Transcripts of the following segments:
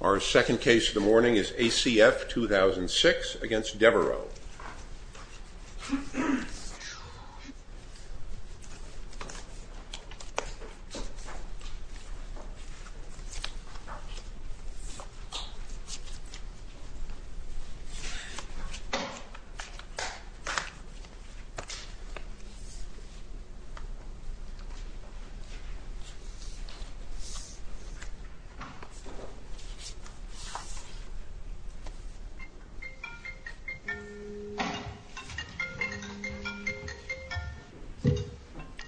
Our second case of the morning is ACF 2006 against Devereux.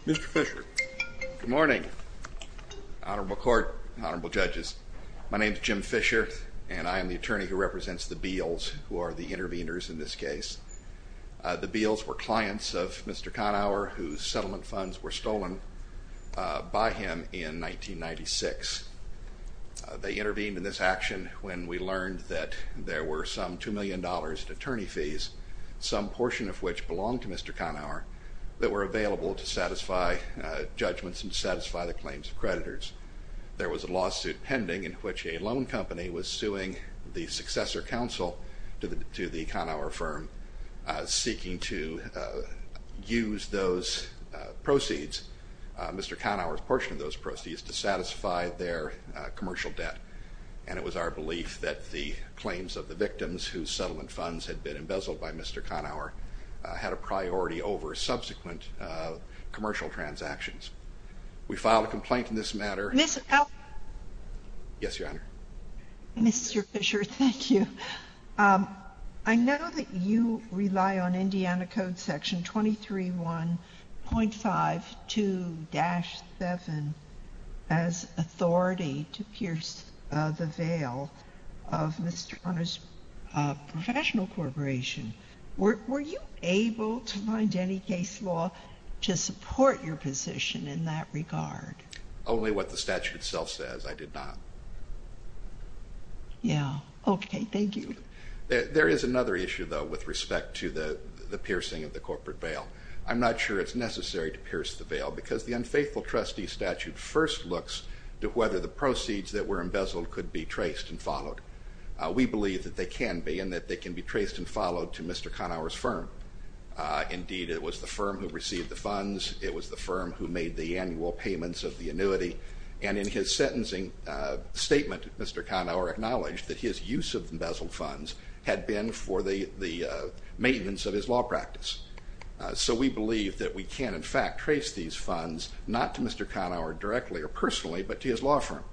Mr. Fischer Good morning, Honorable Court, Honorable Judges. My name is Jim Fischer, and I am the attorney who represents the Beals, who are the intervenors in this case. The Beals were clients of Mr. Conower, whose settlement funds were stolen by him in 1996. They intervened in this action when we learned that there were some $2 million in attorney fees, some portion of which belonged to Mr. Conower, that were available to satisfy judgments and to satisfy the claims of creditors. There was a lawsuit pending in which a loan company was suing the successor counsel to the Conower firm, seeking to use those proceeds, Mr. Conower's portion of those proceeds, to satisfy their commercial debt. And it was our belief that the claims of the victims, whose settlement funds had been embezzled by Mr. Conower, had a priority over subsequent commercial transactions. We filed a complaint in this matter. Ms. Alton Yes, Your Honor. Mr. Fischer, thank you. I know that you rely on Indiana Code Section 23.1.52-7 as authority to pierce the veil of Mr. Conower's professional corporation. Were you able to find any case law to support your position in that regard? Mr. Fischer Only what the statute itself says, I did not. Ms. Alton Yeah, okay, thank you. Mr. Fischer There is another issue, though, with respect to the piercing of the corporate veil. I'm not sure it's necessary to pierce the veil, because the unfaithful trustee statute first looks to whether the proceeds that were embezzled could be traced and followed. We believe that they can be, and that they can be traced and followed to Mr. Conower's firm. Indeed, it was the firm who received the funds, it was the firm who made the annual payments of the annuity, and in his sentencing statement, Mr. Conower acknowledged that his use of embezzled funds had been for the maintenance of his law practice. So we believe that we can, in fact, trace these funds not to Mr. Conower directly or personally, but to his law firm.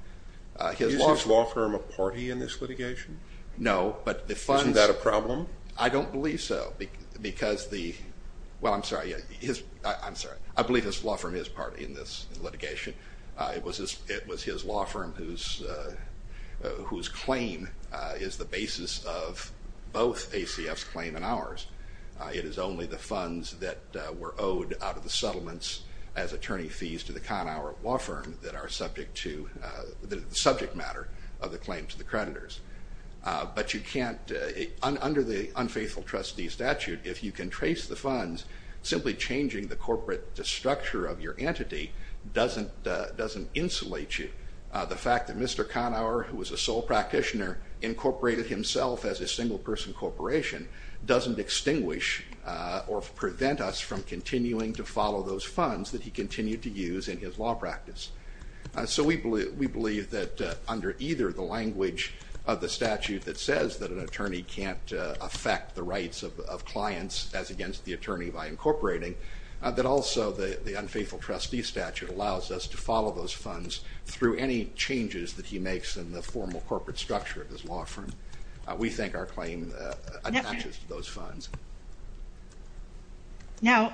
His law firm— Mr. Conower Is his law firm a party in this litigation? Mr. Fischer No, but the funds— Mr. Conower Isn't that a problem? Mr. Fischer I don't believe so, because the—well, I'm sorry, his—I'm sorry, I believe his law firm is a party in this litigation. It was his law firm whose claim is the basis of both ACF's claim and ours. It is only the funds that were owed out of the settlements as attorney fees to the Conower law firm that are subject to—the subject matter of the claim to the creditors. But you can't—under the unfaithful trustee statute, if you can trace the funds, simply changing the corporate structure of your entity doesn't insulate you. The fact that Mr. Conower, who was a sole practitioner, incorporated himself as a single-person corporation doesn't extinguish or prevent us from continuing to follow those funds that he continued to use in his law practice. So we believe that under either the language of the statute that says that an attorney can't affect the rights of clients as against the attorney by incorporating, that also the unfaithful trustee statute allows us to follow those funds through any changes that he makes in the formal corporate structure of his law firm. We think our claim attaches to those funds. Now,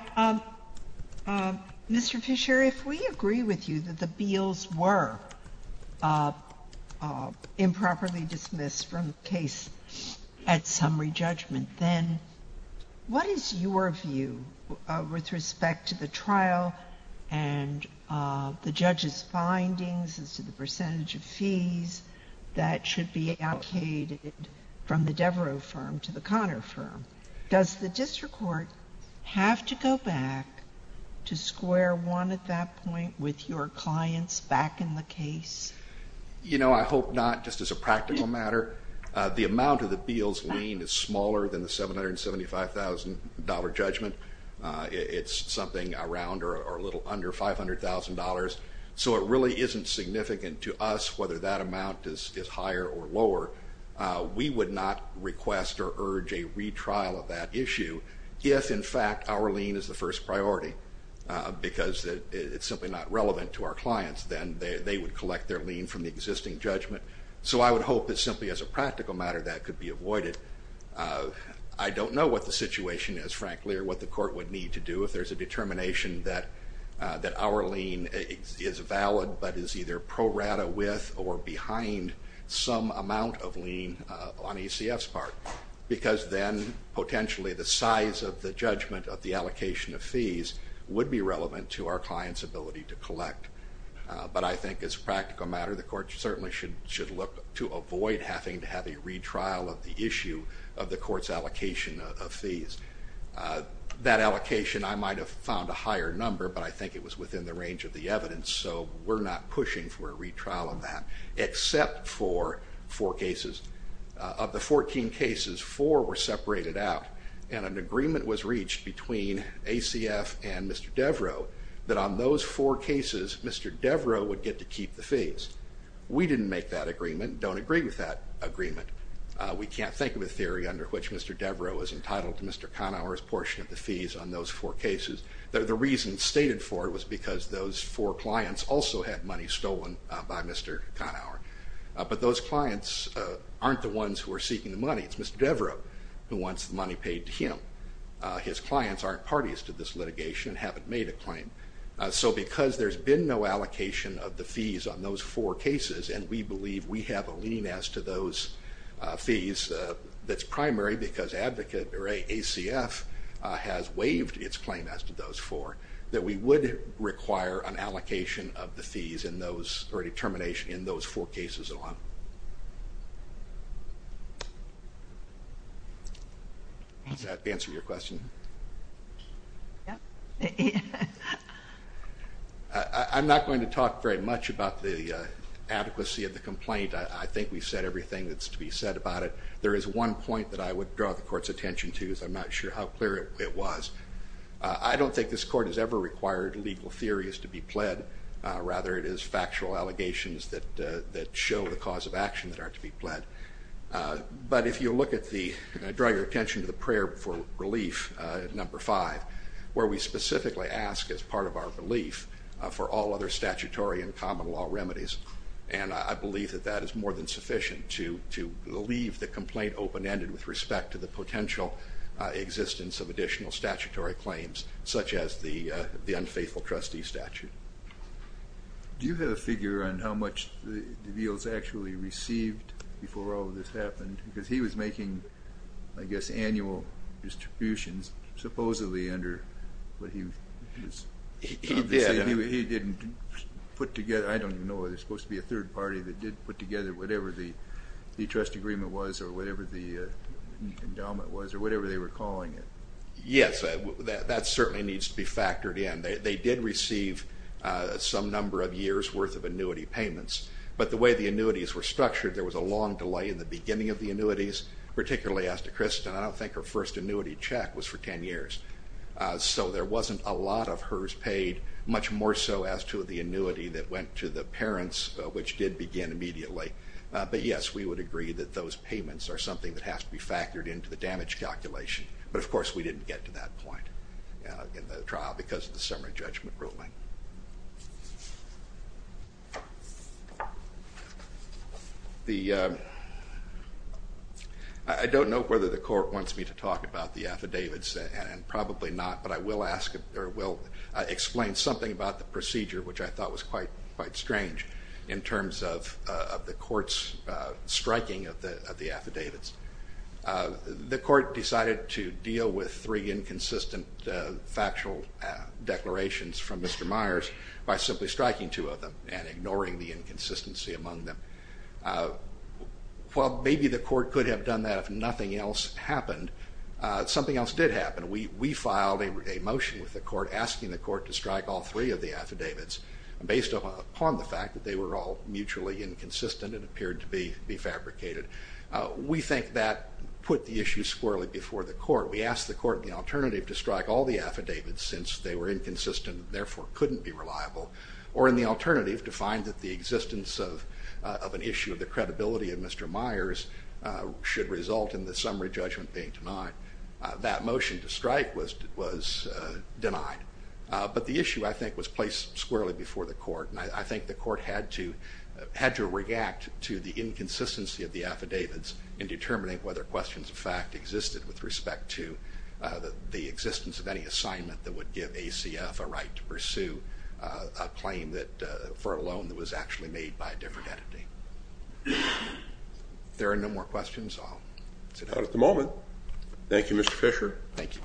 Mr. Fischer, if we agree with you that the Beals were improperly dismissed from the case at summary judgment, then what is your view with respect to the trial and the judge's findings as to the percentage of fees that should be allocated from the Devereux firm to the Conower firm? Does the district court have to go back to square one at that point with your clients back in the case? You know, I hope not, just as a practical matter. The amount of the Beals' lien is smaller than the $775,000 judgment. It's something around or a little under $500,000. So it really isn't significant to us whether that amount is higher or lower. We would not request or urge a retrial of that issue if, in fact, our lien is the first priority because it's simply not relevant to our clients. Then they would collect their lien from the existing judgment. So I would hope that simply as a practical matter that could be avoided. I don't know what the situation is, frankly, or what the court would need to do if there's a determination that our lien is valid but is either pro rata with or behind some amount of lien on ECF's part because then potentially the size of the judgment of the allocation of fees would be relevant to our client's ability to collect. But I think as a practical matter, the court certainly should look to avoid having to have a retrial of the issue of the court's allocation of fees. That allocation, I might have found a higher number, but I think it was within the range of the evidence. So we're not pushing for a retrial of that except for four cases. Of the 14 cases, four were separated out and an agreement was reached between ACF and Mr. Devereux that on those four cases Mr. Devereux would get to keep the fees. We didn't make that agreement, don't agree with that agreement. We can't think of a theory under which Mr. Devereux is entitled to Mr. Conower's portion of the fees on those four cases. The reason stated for it was because those four clients also had money stolen by Mr. Conower. But those clients aren't the ones who are seeking the money, it's Mr. Devereux who wants the money paid to him. His clients aren't parties to this litigation and haven't made a claim. So because there's been no allocation of the fees on those four cases and we believe we have a lien as to those fees that's primary because advocate or ACF has waived its claim as to those four, that we would require an allocation of the fees in those, or a determination in those four cases alone. Does that answer your question? I'm not going to talk very much about the adequacy of the complaint. I think we've said everything that's to be said about it. There is one point that I would draw the court's attention to, I'm not sure how clear it was. I don't think this court has ever required legal theories to be pled, rather it is factual allegations that show the cause of action that are to be pled. But if you look at the, draw your attention to the prayer for relief, number five, where we specifically ask as part of our relief for all other statutory and common law remedies, and I believe that that is more than sufficient to leave the complaint open-ended with respect to the potential existence of additional statutory claims, such as the unfaithful trustee statute. Do you have a figure on how much DeVeals actually received before all of this happened, because he was making, I guess, annual distributions supposedly under what he was, he didn't put together, I don't even know whether it's supposed to be a third party that did put together whatever the trust agreement was, or whatever the endowment was, or whatever they were calling it. Yes, that certainly needs to be factored in. They did receive some number of years worth of annuity payments, but the way the annuities were structured, there was a long delay in the beginning of the annuities, particularly as to Kristen, I don't think her first annuity check was for ten years. So there wasn't a lot of hers paid, much more so as to the annuity that went to the parents, which did begin immediately. But yes, we would agree that those payments are something that has to be factored into the damage calculation. But of course, we didn't get to that point in the trial because of the summary judgment ruling. I don't know whether the court wants me to talk about the affidavits, and probably not, but I will explain something about the procedure, which I thought was quite strange in terms of the court's striking of the affidavits. The court decided to deal with three inconsistent factual declarations from Mr. Myers by simply striking two of them and ignoring the inconsistency among them. While maybe the court could have done that if nothing else happened, something else did happen. We filed a motion with the court asking the court to strike all three of the affidavits based upon the fact that they were all mutually inconsistent and appeared to be fabricated. We think that put the issue squarely before the court. We asked the court the alternative to strike all the affidavits since they were inconsistent and therefore couldn't be reliable, or in the alternative, to find that the existence of an issue of the credibility of Mr. Myers should result in the summary judgment being denied. That motion to strike was denied, but the issue, I think, was placed squarely before the court, and I think the court had to react to the inconsistency of the affidavits in determining whether questions of fact existed with respect to the existence of any assignment that would give ACF a right to pursue a claim for a loan that was actually made by a different entity. That's all I have at the moment. Thank you, Mr. Fisher. Thank you.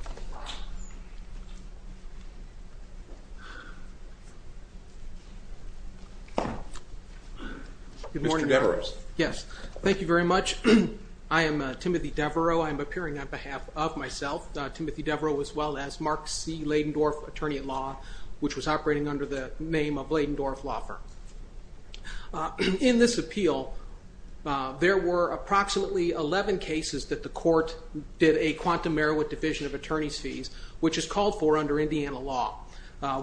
Good morning. Mr. Devereaux. Yes. Thank you very much. I am Timothy Devereaux. I am appearing on behalf of myself, Timothy Devereaux, as well as Mark C. Ladendorff, attorney at law, which was operating under the name of Ladendorff Law Firm. In this appeal, there were approximately 11 cases that the court did a quantum merit division of attorney's fees, which is called for under Indiana law.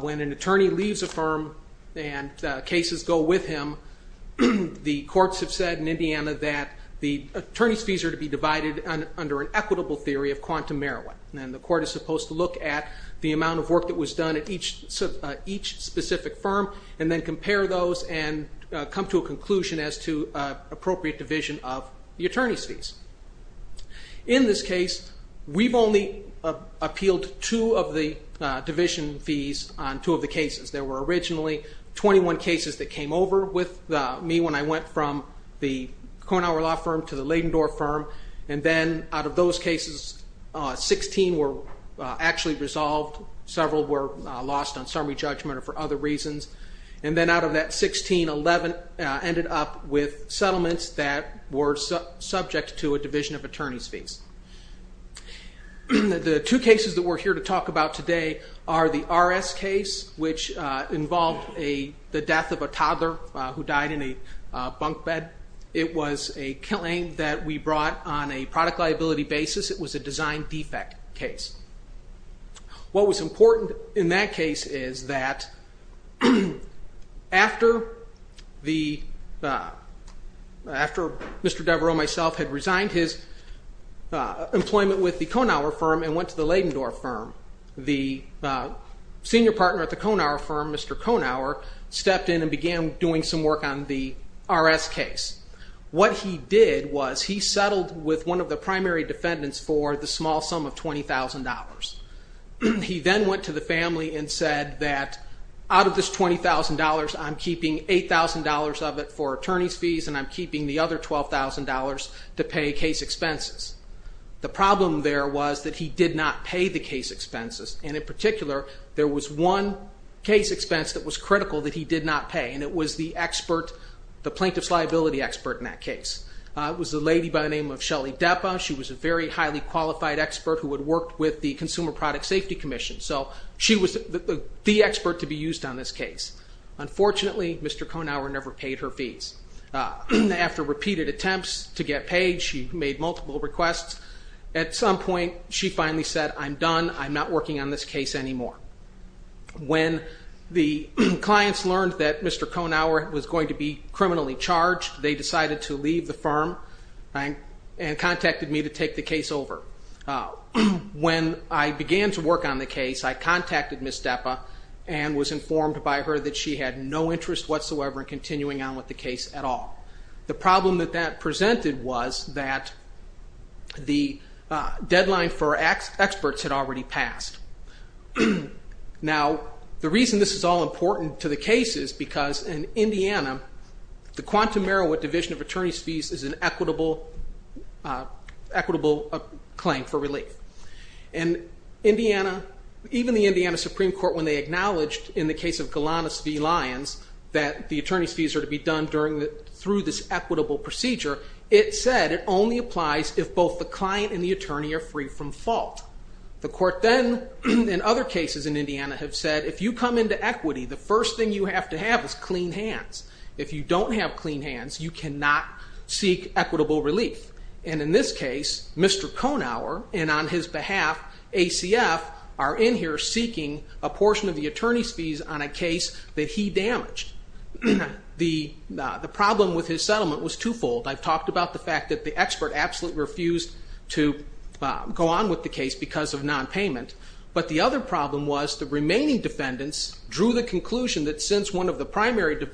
When an attorney leaves a firm and cases go with him, the courts have said in Indiana that the attorney's fees are to be divided under an equitable theory of quantum merit. The court is supposed to look at the amount of work that was done at each specific firm and then compare those and come to a conclusion as to appropriate division of the attorney's fees. In this case, we've only appealed two of the division fees on two of the cases. There were originally 21 cases that came over with me when I went from the Kornhauer Law Firm to the Ladendorff Firm, and then out of those cases, 16 were actually resolved. Several were lost on summary judgment or for other reasons. And then out of that 16, 11 ended up with settlements that were subject to a division of attorney's fees. The two cases that we're here to talk about today are the RS case, which involved the death of a toddler who died in a bunk bed. It was a claim that we brought on a product liability basis. It was a design defect case. What was important in that case is that after Mr. Devereaux, myself, had resigned his employment with the Kornhauer Firm and went to the Ladendorff Firm, the senior partner at the Kornhauer Firm, Mr. Kornhauer, stepped in and began doing some work on the RS case. What he did was he settled with one of the primary defendants for the small sum of $20,000. He then went to the family and said that out of this $20,000, I'm keeping $8,000 of it for attorney's fees, and I'm keeping the other $12,000 to pay case expenses. The problem there was that he did not pay the case expenses, and in particular, there was one case expense that was critical that he did not pay, and it was the plaintiff's liability expert in that case. It was a lady by the name of Shelly Depa. She was a very highly qualified expert who had worked with the Consumer Product Safety Commission, so she was the expert to be used on this case. Unfortunately, Mr. Kornhauer never paid her fees. After repeated attempts to get paid, she made multiple requests. At some point, she finally said, I'm done. I'm not working on this case anymore. When the clients learned that Mr. Kornhauer was going to be criminally charged, they decided to leave the firm and contacted me to take the case over. When I began to work on the case, I contacted Ms. Depa and was informed by her that she had no interest whatsoever in continuing on with the case at all. The problem that that presented was that the deadline for experts had already passed. Now, the reason this is all important to the case is because in Indiana, the Quantum Merowith Division of Attorney's Fees is an equitable claim for relief. Even the Indiana Supreme Court, when they acknowledged in the case of Galanis v. Lyons that the attorney's fees are to be done through this equitable procedure, it said it only applies if both the client and the attorney are free from fault. The court then, in other cases in Indiana, have said, if you come into equity, the first thing you have to have is clean hands. If you don't have clean hands, you cannot seek equitable relief. In this case, Mr. Kornhauer and on his behalf, ACF, are in here seeking a portion of the The problem with his settlement was twofold. I've talked about the fact that the expert absolutely refused to go on with the case because of non-payment, but the other problem was the remaining defendants drew the conclusion that since one of the primary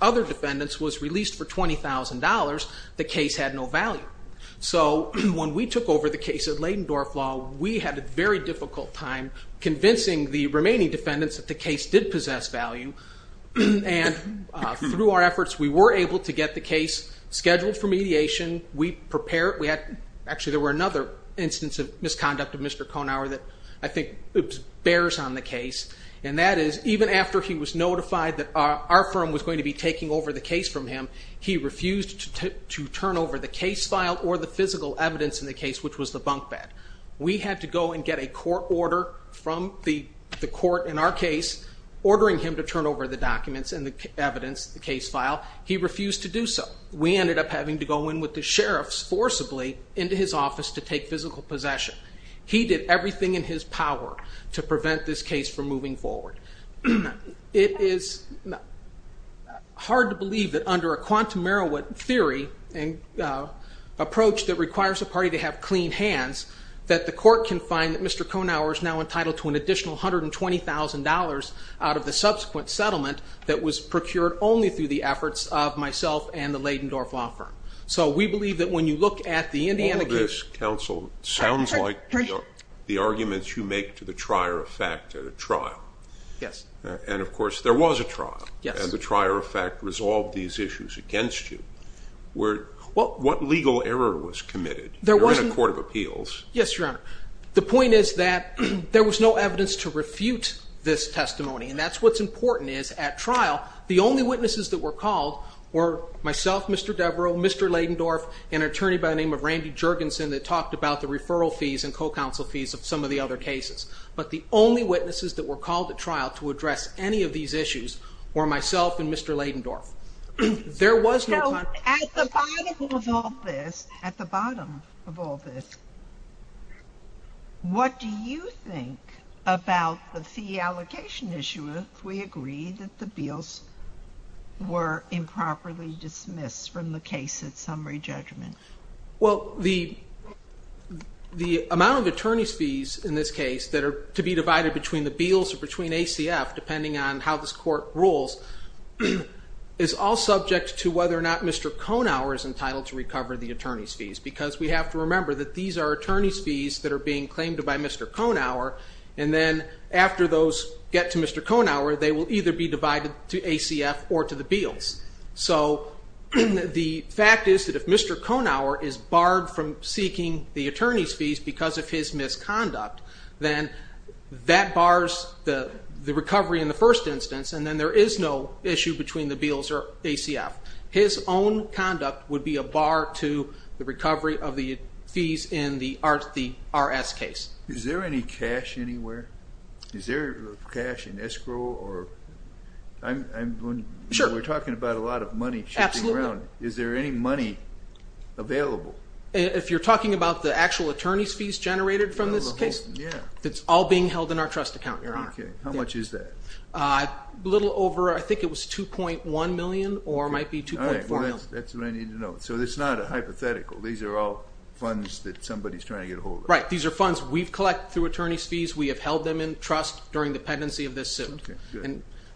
other defendants was released for $20,000, the case had no value. So when we took over the case at Leydendorf Law, we had a very difficult time convincing the remaining defendants that the case did possess value, and through our efforts, we were able to get the case scheduled for mediation. We prepared, we had, actually there were another instance of misconduct of Mr. Kornhauer that I think bears on the case, and that is even after he was notified that our firm was going to be taking over the case from him, he refused to turn over the case file or the physical evidence in the case, which was the bunk bed. We had to go and get a court order from the court in our case, ordering him to turn over the documents and the evidence, the case file. He refused to do so. We ended up having to go in with the sheriffs forcibly into his office to take physical possession. He did everything in his power to prevent this case from moving forward. It is hard to believe that under a quantum Merowith theory and approach that requires a party to have clean hands, that the court can find that Mr. Kornhauer is now entitled to an additional $120,000 out of the subsequent settlement that was procured only through the efforts of myself and the Leyden Dorf Law Firm. So we believe that when you look at the Indiana case- All of this, counsel, sounds like the arguments you make to the trier of fact at a trial. Yes. And of course, there was a trial. Yes. And the trier of fact resolved these issues against you. What legal error was committed? You're in a court of appeals. Yes, your honor. The point is that there was no evidence to refute this testimony, and that's what's important is at trial, the only witnesses that were called were myself, Mr. Devereux, Mr. Leyden Dorf, and an attorney by the name of Randy Jergensen that talked about the referral fees and co-counsel fees of some of the other cases. But the only witnesses that were called at trial to address any of these issues were myself and Mr. Leyden Dorf. There was no- So at the bottom of all this, at the bottom of all this, what do you think about the fee allocation issue if we agree that the bills were improperly dismissed from the case at summary judgment? Well the amount of attorney's fees in this case that are to be divided between the bills or between ACF, depending on how this court rules, is all subject to whether or not Mr. Konauer is entitled to recover the attorney's fees. Because we have to remember that these are attorney's fees that are being claimed by Mr. Konauer, and then after those get to Mr. Konauer, they will either be divided to ACF or to the bills. So the fact is that if Mr. Konauer is barred from seeking the attorney's fees because of his misconduct, then that bars the recovery in the first instance, and then there is no issue between the bills or ACF. His own conduct would be a bar to the recovery of the fees in the RS case. Is there any cash anywhere? Is there cash in escrow or- Sure. We're talking about a lot of money shipping around. Is there any money available? If you're talking about the actual attorney's fees generated from this case, it's all being held in our trust account, Your Honor. Okay. How much is that? A little over, I think it was 2.1 million or it might be 2.4 million. All right. That's what I need to know. So it's not a hypothetical. These are all funds that somebody's trying to get a hold of. Right. These are funds we've collected through attorney's fees. We have held them in trust during the pendency of this suit.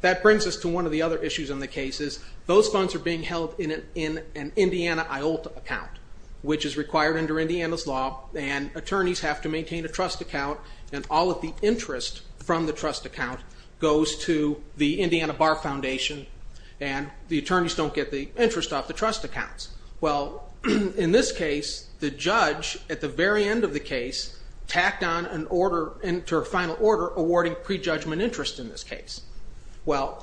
That brings us to one of the other issues in the case is those funds are being held in an Indiana IOLT account, which is required under Indiana's law and attorneys have to maintain a trust account and all of the interest from the trust account goes to the Indiana Bar Foundation and the attorneys don't get the interest off the trust accounts. Well, in this case, the judge at the very end of the case tacked on an order into a final order awarding prejudgment interest in this case. Well,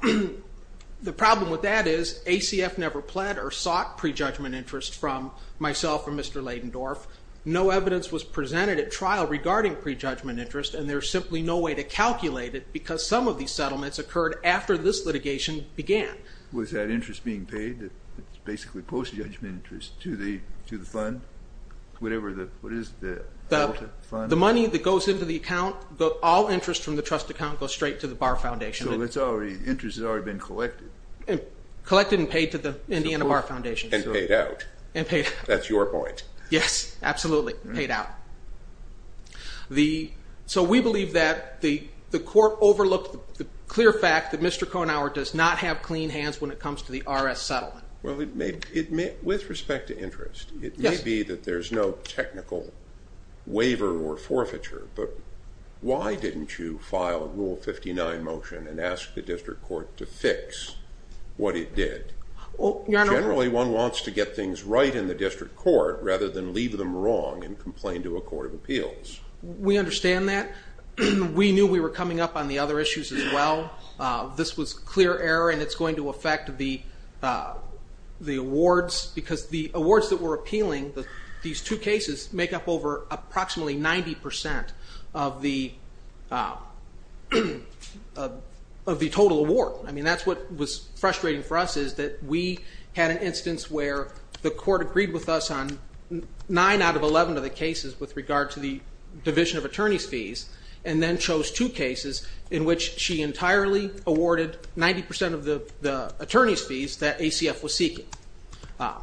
the problem with that is ACF never pled or sought prejudgment interest from myself and Mr. Leydendorf. No evidence was presented at trial regarding prejudgment interest and there's simply no way to calculate it because some of these settlements occurred after this litigation began. Was that interest being paid, basically post-judgment interest to the fund, whatever, what is it? The money that goes into the account, all interest from the trust account goes straight to the Bar Foundation. So the interest has already been collected? Collected and paid to the Indiana Bar Foundation. And paid out. And paid out. That's your point. Yes, absolutely. Paid out. So we believe that the court overlooked the clear fact that Mr. Conower does not have clean hands when it comes to the RS settlement. With respect to interest, it may be that there's no technical waiver or forfeiture, but why didn't you file a Rule 59 motion and ask the district court to fix what it did? Generally, one wants to get things right in the district court rather than leave them wrong and complain to a court of appeals. We understand that. We knew we were coming up on the other issues as well. This was clear error and it's going to affect the awards because the awards that were appealing, these two cases make up over approximately 90% of the total award. That's what was frustrating for us is that we had an instance where the court agreed with us on 9 out of 11 of the cases with regard to the division of attorney's fees and then chose two cases in which she entirely awarded 90% of the attorney's fees that ACF was seeking. I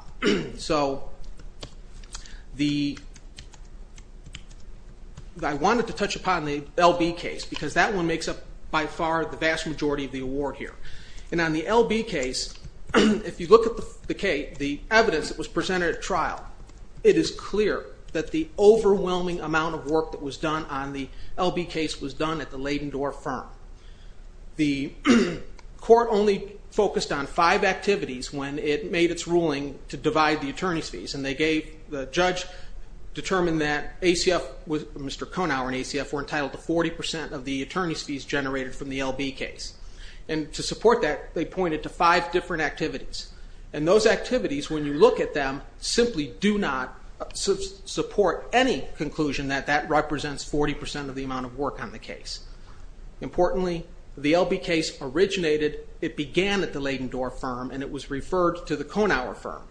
wanted to touch upon the LB case because that one makes up by far the vast majority of the award here. On the LB case, if you look at the evidence that was presented at trial, it is clear that the overwhelming amount of work that was done on the LB case was done at the Leyden Dorr firm. The court only focused on five activities when it made its ruling to divide the attorney's fees. The judge determined that Mr. Conower and ACF were entitled to 40% of the attorney's fees generated from the LB case. To support that, they pointed to five different activities. Those activities, when you look at them, simply do not support any conclusion that that represents 40% of the amount of work on the case. Importantly, the LB case originated, it began at the Leyden Dorr firm and it was referred to the Conower firm.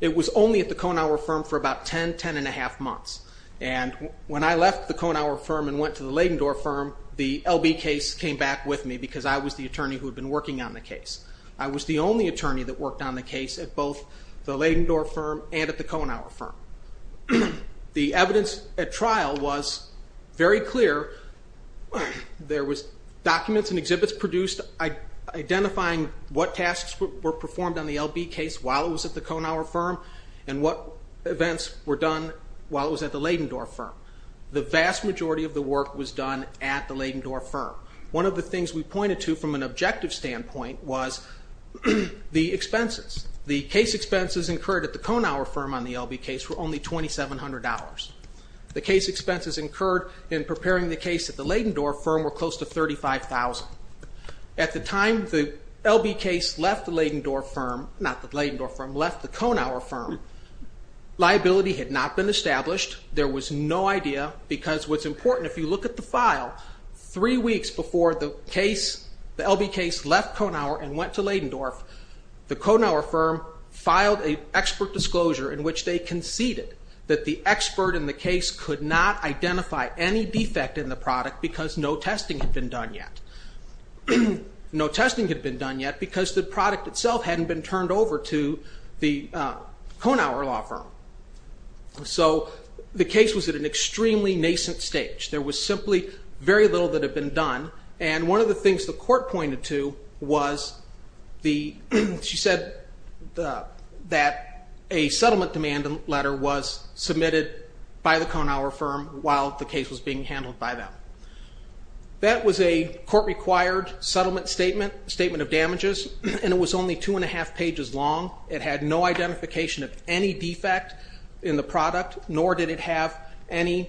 It was only at the Conower firm for about 10, 10 and a half months. When I left the Conower firm and went to the Leyden Dorr firm, the LB case came back with me because I was the attorney who had been working on the case. I was the only attorney that worked on the case at both the Leyden Dorr firm and at the Conower firm. The evidence at trial was very clear. There was documents and exhibits produced identifying what tasks were performed on the LB case while it was at the Conower firm and what events were done while it was at the Leyden Dorr firm. The vast majority of the work was done at the Leyden Dorr firm. One of the things we pointed to from an objective standpoint was the expenses. The case expenses incurred at the Conower firm on the LB case were only $2,700. The case expenses incurred in preparing the case at the Leyden Dorr firm were close to $35,000. At the time the LB case left the Leyden Dorr firm, not the Leyden Dorr firm, left the Conower firm, liability had not been established. There was no idea because what's important, if you look at the file, three weeks before the case, the LB case left Conower and went to Leyden Dorr, the Conower firm filed an expert disclosure in which they conceded that the expert in the case could not identify any defect in the product because no testing had been done yet. No testing had been done yet because the product itself hadn't been turned over to the Conower law firm. So the case was at an extremely nascent stage. There was simply very little that had been done and one of the things the court pointed to was she said that a settlement demand letter was submitted by the Conower firm while the case was being handled by them. That was a court-required settlement statement, statement of damages, and it was only two and a half pages long. It had no identification of any defect in the product nor did it have any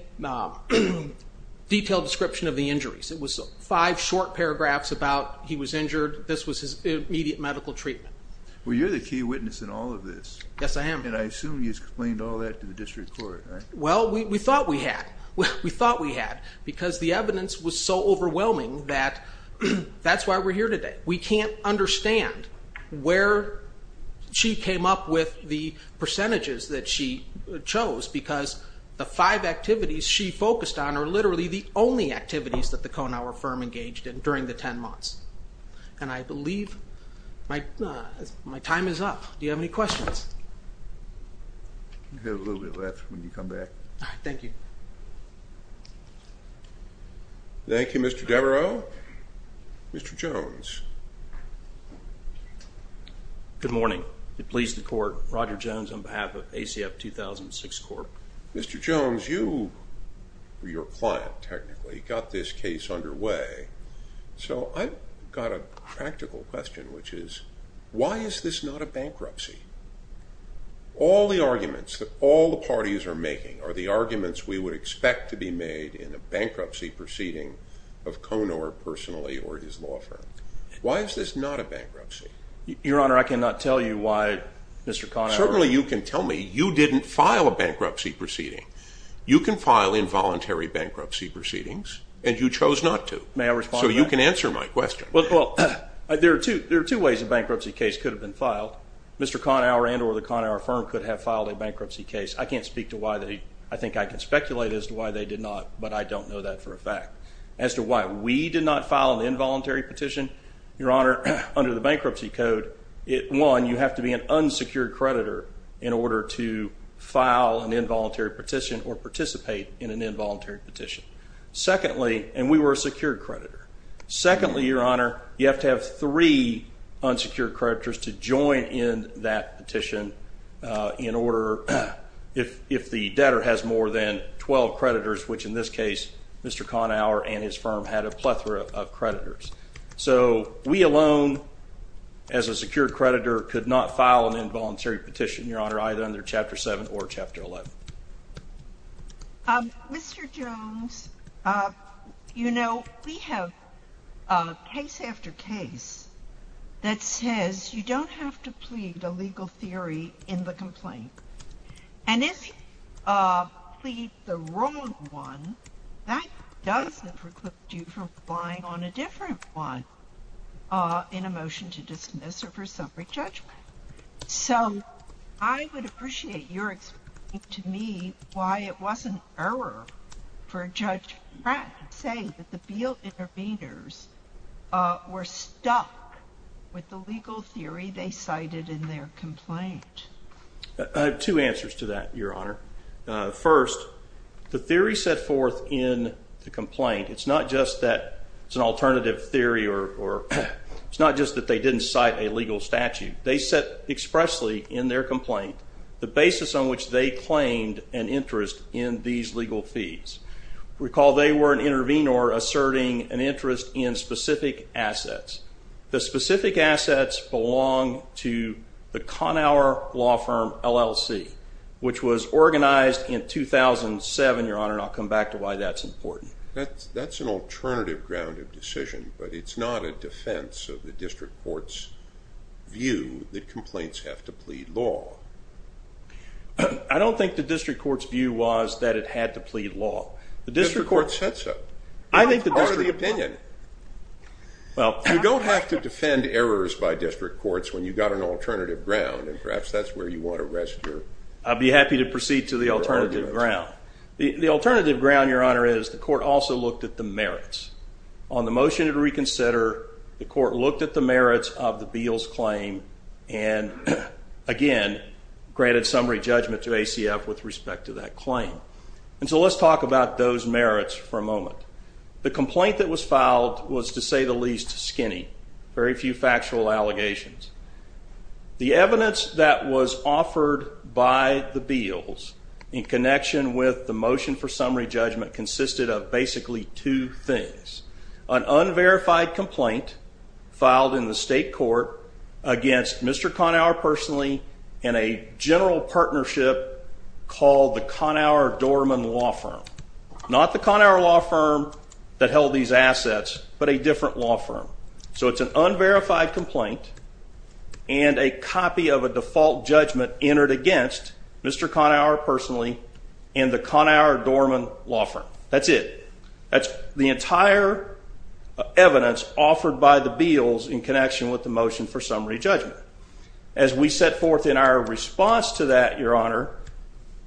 detailed description of the injuries. It was five short paragraphs about he was injured. This was his immediate medical treatment. Well, you're the key witness in all of this. Yes, I am. And I assume you explained all that to the district court, right? Well, we thought we had. We thought we had because the evidence was so overwhelming that that's why we're here today. We can't understand where she came up with the percentages that she chose because the five activities she focused on are literally the only activities that the Conower firm engaged in during the ten months. And I believe my time is up. Do you have any questions? You have a little bit left when you come back. All right, thank you. Thank you, Mr. Devereaux. Mr. Jones. Good morning. It pleases the court, Roger Jones on behalf of ACF 2006 Court. Mr. Jones, you were your client technically, got this case underway. So I've got a practical question, which is, why is this not a bankruptcy? All the arguments that all the parties are making are the arguments we would expect to be made in a bankruptcy proceeding of Conower personally or his law firm. Why is this not a bankruptcy? Your Honor, I cannot tell you why, Mr. Conower. Certainly you can tell me. You didn't file a bankruptcy proceeding. You can file involuntary bankruptcy proceedings, and you chose not to. May I respond to that? So you can answer my question. Well, there are two ways a bankruptcy case could have been filed. Mr. Conower and or the Conower firm could have filed a bankruptcy case. I can't speak to why they, I think I can speculate as to why they did not, but I don't know that for a fact. As to why we did not file an involuntary petition, Your Honor, under the bankruptcy code, one, you have to be an unsecured creditor in order to file an involuntary petition or participate in an involuntary petition. Secondly, and we were a secured creditor, secondly, Your Honor, you have to have three if the debtor has more than 12 creditors, which in this case, Mr. Conower and his firm had a plethora of creditors. So we alone, as a secured creditor, could not file an involuntary petition, Your Honor, either under Chapter 7 or Chapter 11. Mr. Jones, you know, we have case after case that says you don't have to plead a legal theory in the complaint. And if you plead the wrong one, that does preclude you from relying on a different one in a motion to dismiss or for separate judgment. So I would appreciate your explaining to me why it wasn't error for Judge Pratt to say that the Beal Intervenors were stuck with the legal theory they cited in their complaint. Two answers to that, Your Honor. First, the theory set forth in the complaint, it's not just that it's an alternative theory or it's not just that they didn't cite a legal statute. They set expressly in their complaint the basis on which they claimed an interest in these legal fees. Recall they were an intervenor asserting an interest in specific assets. The specific assets belong to the Conower Law Firm, LLC, which was organized in 2007, Your Honor, and I'll come back to why that's important. That's an alternative ground of decision, but it's not a defense of the district court's view that complaints have to plead law. I don't think the district court's view was that it had to plead law. The district court said so. I think the district court said so. It's part of the opinion. You don't have to defend errors by district courts when you've got an alternative ground, and perhaps that's where you want to rest your arguments. I'd be happy to proceed to the alternative ground. The alternative ground, Your Honor, is the court also looked at the merits. On the motion to reconsider, the court looked at the merits of the Beal's claim and, again, granted summary judgment to ACF with respect to that claim. And so let's talk about those merits for a moment. The complaint that was filed was, to say the least, skinny. Very few factual allegations. The evidence that was offered by the Beals in connection with the motion for summary judgment consisted of basically two things, an unverified complaint filed in the state court against Mr. Conower personally and a general partnership called the Conower-Dorman Law Firm. Not the Conower Law Firm that held these assets, but a different law firm. So it's an unverified complaint and a copy of a default judgment entered against Mr. Conower personally and the Conower-Dorman Law Firm. That's it. That's the entire evidence offered by the Beals in connection with the motion for summary judgment. As we set forth in our response to that, Your Honor,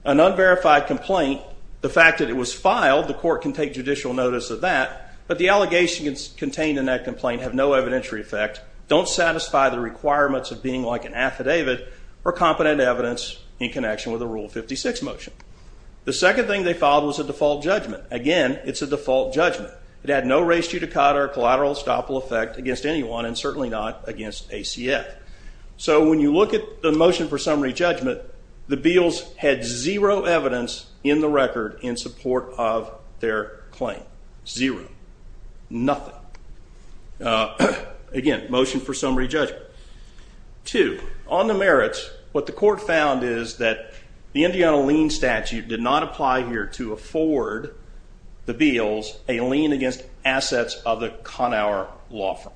an unverified complaint, the fact that it was filed, the court can take judicial notice of that, but the allegations contained in that complaint have no evidentiary effect, don't satisfy the requirements of being like an affidavit or competent evidence in connection with a Rule 56 motion. The second thing they filed was a default judgment. Again, it's a default judgment. It had no res judicata or collateral estoppel effect against anyone and certainly not against ACF. So when you look at the motion for summary judgment, the Beals had zero evidence in the record in support of their claim. Zero. Nothing. Again, motion for summary judgment. Two, on the merits, what the court found is that the Indiana lien statute did not apply here to afford the Beals a lien against assets of the Conower law firm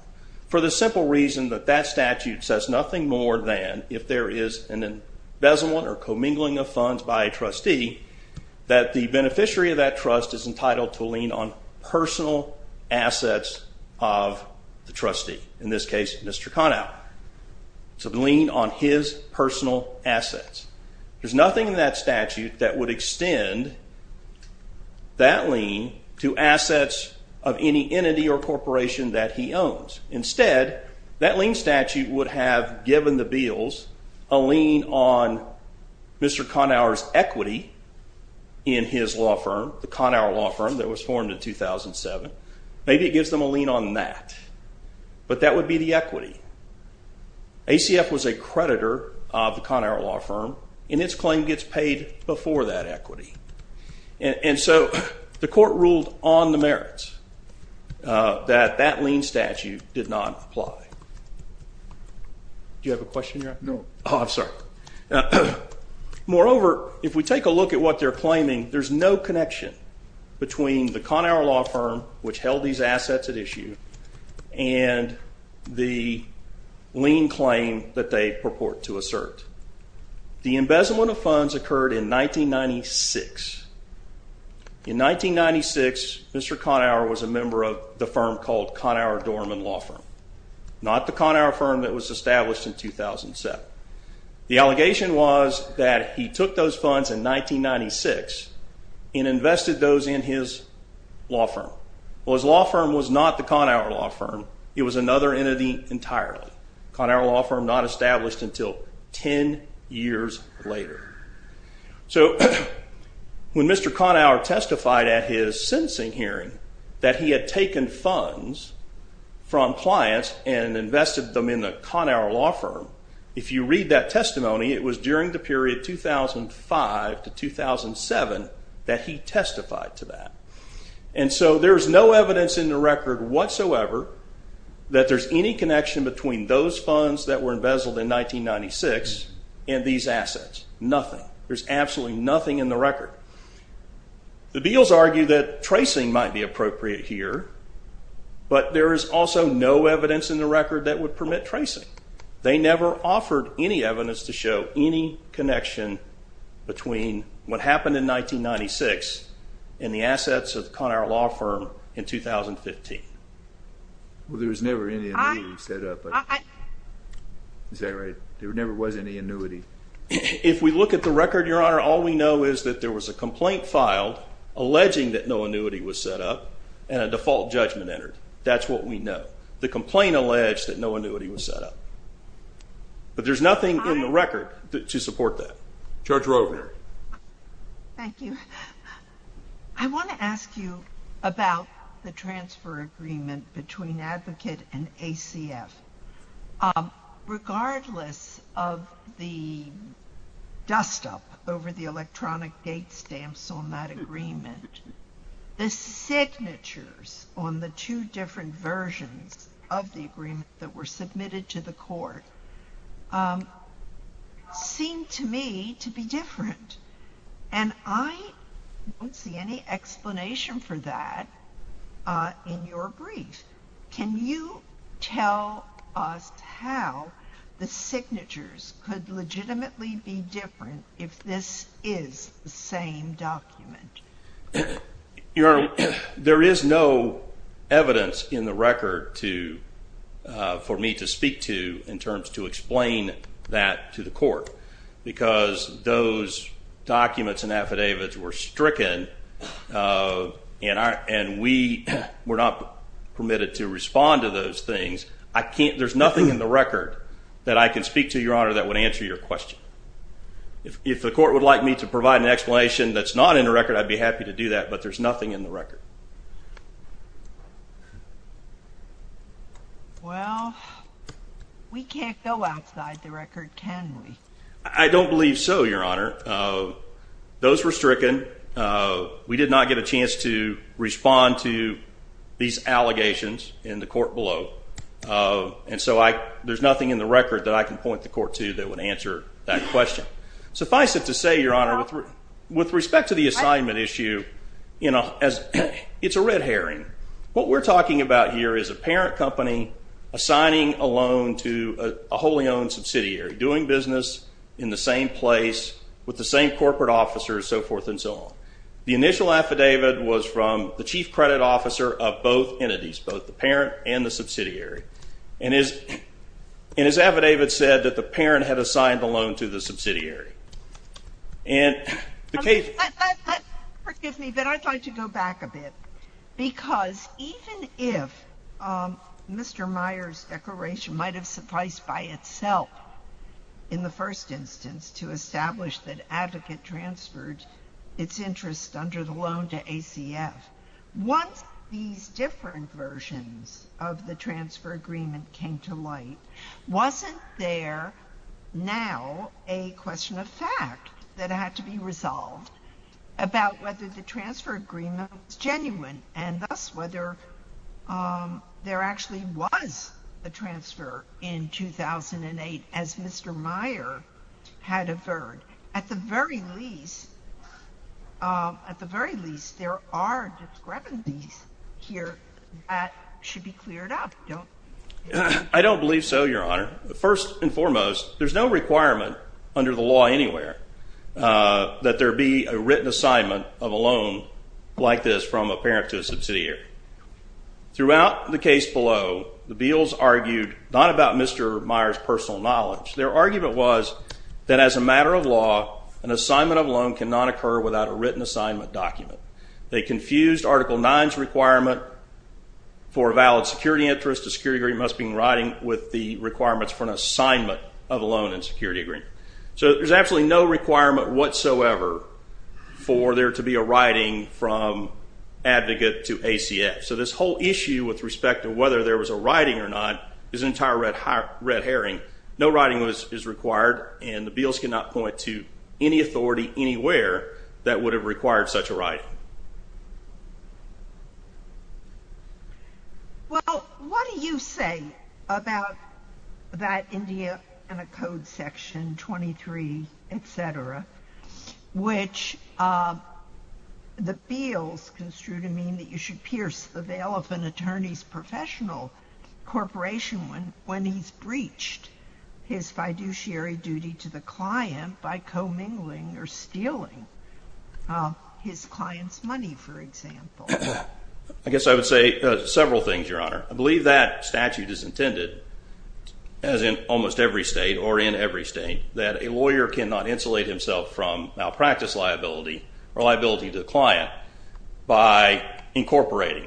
for the simple reason that that statute says nothing more than if there is an embezzlement or commingling of funds by a trustee, that the beneficiary of that trust is entitled to a lien on personal assets of the trustee, in this case, Mr. Conower. It's a lien on his personal assets. There's nothing in that statute that would extend that lien to assets of any entity or corporation that he owns. Instead, that lien statute would have given the Beals a lien on Mr. Conower's equity in his law firm, the Conower law firm that was formed in 2007. Maybe it gives them a lien on that. But that would be the equity. ACF was a creditor of the Conower law firm, and its claim gets paid before that equity. And so, the court ruled on the merits that that lien statute did not apply. Do you have a question, Your Honor? No. Oh, I'm sorry. Moreover, if we take a look at what they're claiming, there's no connection between the lien claim that they purport to assert. The embezzlement of funds occurred in 1996. In 1996, Mr. Conower was a member of the firm called Conower Dorman Law Firm, not the Conower firm that was established in 2007. The allegation was that he took those funds in 1996 and invested those in his law firm. Well, his law firm was not the Conower law firm. It was another entity entirely, Conower law firm not established until 10 years later. So when Mr. Conower testified at his sentencing hearing that he had taken funds from clients and invested them in the Conower law firm, if you read that testimony, it was during the period 2005 to 2007 that he testified to that. And so there's no evidence in the record whatsoever that there's any connection between those funds that were embezzled in 1996 and these assets, nothing. There's absolutely nothing in the record. The Beals argue that tracing might be appropriate here, but there is also no evidence in the record that would permit tracing. They never offered any evidence to show any connection between what happened in 1996 and the assets of the Conower law firm in 2015. Well, there was never any annuity set up, but is that right? There never was any annuity. If we look at the record, your honor, all we know is that there was a complaint filed alleging that no annuity was set up and a default judgment entered. That's what we know. The complaint alleged that no annuity was set up, but there's nothing in the record to support that. Judge Rovner. Thank you. I want to ask you about the transfer agreement between Advocate and ACF. Regardless of the dust up over the electronic gate stamps on that agreement, the signatures on the two different versions of the agreement that were submitted to the court seem to me to be different. And I don't see any explanation for that in your brief. Can you tell us how the signatures could legitimately be different if this is the same document? There is no evidence in the record for me to speak to in terms to explain that to the documents and affidavits were stricken and we were not permitted to respond to those things. There's nothing in the record that I can speak to, your honor, that would answer your question. If the court would like me to provide an explanation that's not in the record, I'd be happy to do that, but there's nothing in the record. Well, we can't go outside the record, can we? I don't believe so, your honor. Those were stricken. We did not get a chance to respond to these allegations in the court below. And so, there's nothing in the record that I can point the court to that would answer that question. Suffice it to say, your honor, with respect to the assignment issue, it's a red herring. What we're talking about here is a parent company assigning a loan to a wholly owned subsidiary, doing business in the same place, with the same corporate officers, so forth and so on. The initial affidavit was from the chief credit officer of both entities, both the parent and the subsidiary, and his affidavit said that the parent had assigned the loan to the subsidiary. Forgive me, but I'd like to go back a bit, because even if Mr. Meyer's declaration might have sufficed by itself, in the first instance, to establish that Advocate transferred its interest under the loan to ACF, once these different versions of the transfer agreement came to light, wasn't there now a question of fact that had to be resolved about whether the transfer agreement was genuine, and thus, whether there actually was a transfer in 2008, as Mr. Meyer had affirmed? At the very least, there are discrepancies here that should be cleared up, don't you think? I don't believe so, your honor. First and foremost, there's no requirement under the law anywhere that there be a written assignment of a loan like this from a parent to a subsidiary. Throughout the case below, the Beals argued not about Mr. Meyer's personal knowledge. Their argument was that as a matter of law, an assignment of a loan cannot occur without a written assignment document. They confused Article 9's requirement for a valid security interest, a security agreement must be in writing, with the requirements for an assignment of a loan in a security agreement. There's absolutely no requirement whatsoever for there to be a writing from advocate to ACF. This whole issue with respect to whether there was a writing or not is an entire red herring. No writing is required, and the Beals cannot point to any authority anywhere that would have required such a writing. Well, what do you say about that India and a code section 23, et cetera, which the Beals construed to mean that you should pierce the veil of an attorney's professional corporation when he's breached his fiduciary duty to the client by commingling or stealing his client's money, for example? I guess I would say several things, Your Honor. I believe that statute is intended, as in almost every state or in every state, that a lawyer cannot insulate himself from malpractice liability or liability to the client by incorporating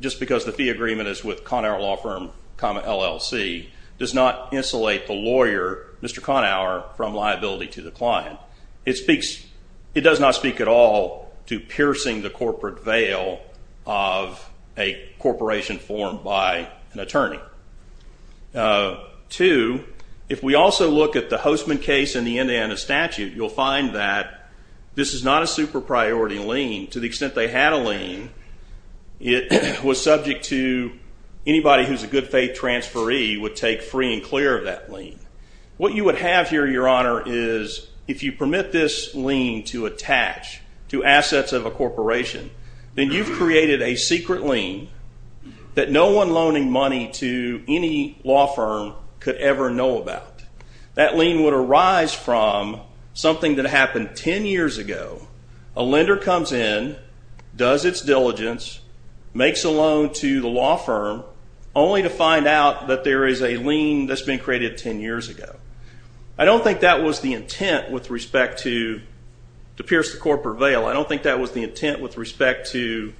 just because the fee agreement is with Conower Law Firm, LLC, does not insulate the lawyer, Mr. Conower, from liability to the client. It does not speak at all to piercing the corporate veil of a corporation formed by an attorney. Two, if we also look at the Hostman case in the Indiana statute, you'll find that this is not a super priority lien. To the extent they had a lien, it was subject to anybody who's a good faith transferee would take free and clear of that lien. What you would have here, Your Honor, is if you permit this lien to attach to assets of a corporation, then you've created a secret lien that no one loaning money to any law firm could ever know about. That lien would arise from something that happened 10 years ago. A lender comes in, does its diligence, makes a loan to the law firm only to find out that there is a lien that's been created 10 years ago. I don't think that was the intent with respect to pierce the corporate veil. I don't think that was the intent with respect to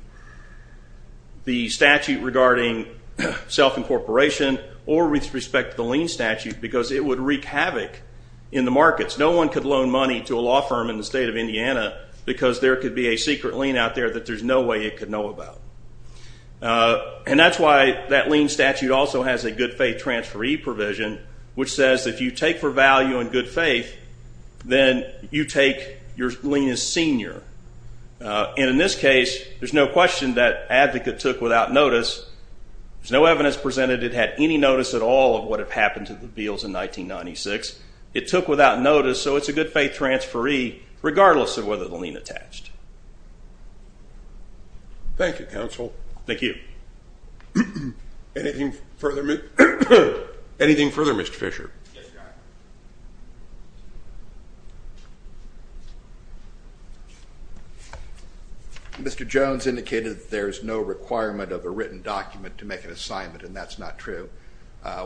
the statute regarding self-incorporation or with respect to the lien statute because it would wreak havoc in the markets. No one could loan money to a law firm in the state of Indiana because there could be a secret lien out there that there's no way it could know about. That's why that lien statute also has a good faith transferee provision, which says if you take for value in good faith, then you take your lien as senior. In this case, there's no question that advocate took without notice, there's no evidence presented that it had any notice at all of what had happened to the Beals in 1996. It took without notice, so it's a good faith transferee regardless of whether the lien attached. Thank you, counsel. Thank you. Anything further, Mr. Fisher? Mr. Jones indicated that there is no requirement of a written document to make an assignment and that's not true.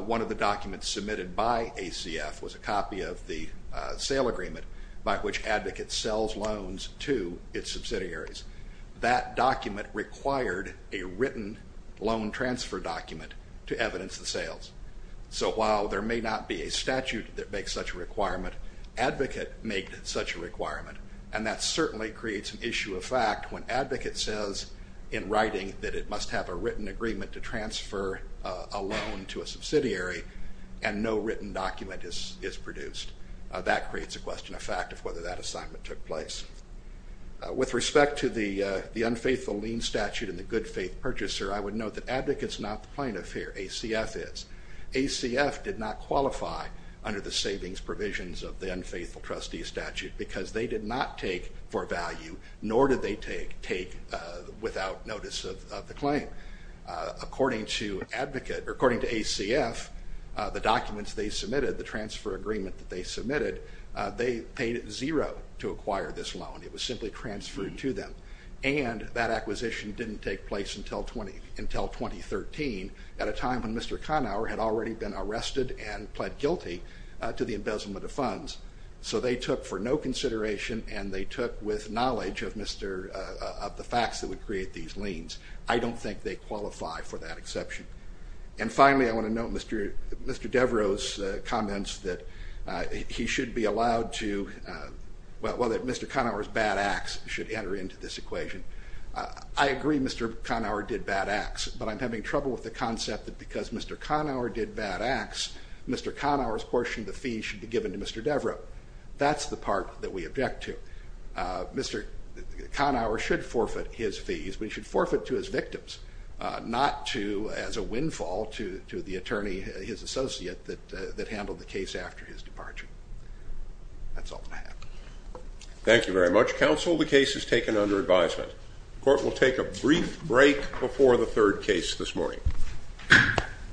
One of the documents submitted by ACF was a copy of the sale agreement by which advocates sells loans to its subsidiaries. That document required a written loan transfer document to evidence the sales. So while there may not be a statute that makes such a requirement, advocate made such a requirement and that certainly creates an issue of fact when advocate says in writing that it must have a written agreement to transfer a loan to a subsidiary and no written document is produced. That creates a question of fact of whether that assignment took place. With respect to the unfaithful lien statute and the good faith purchaser, I would note that advocate is not plaintiff here, ACF is. ACF did not qualify under the savings provisions of the unfaithful trustee statute because they did not take for value nor did they take without notice of the claim. According to ACF, the documents they submitted, the transfer agreement that they submitted, they paid zero to acquire this loan, it was simply transferred to them and that acquisition didn't take place until 2013 at a time when Mr. Conower had already been arrested and pled guilty to the embezzlement of funds. So they took for no consideration and they took with knowledge of the facts that would create these liens. I don't think they qualify for that exception. And finally, I want to note Mr. Devereux's comments that he should be allowed to, well that Mr. Conower's bad acts should enter into this equation. I agree Mr. Conower did bad acts, but I'm having trouble with the concept that because Mr. Conower did bad acts, Mr. Conower's portion of the fees should be given to Mr. Devereux. That's the part that we object to. Mr. Conower should forfeit his fees, but he should forfeit to his victims, not to, as a windfall, to the attorney, his associate that handled the case after his departure. That's all I have. Thank you very much. Counsel, the case is taken under advisement. The court will take a brief break before the third case this morning.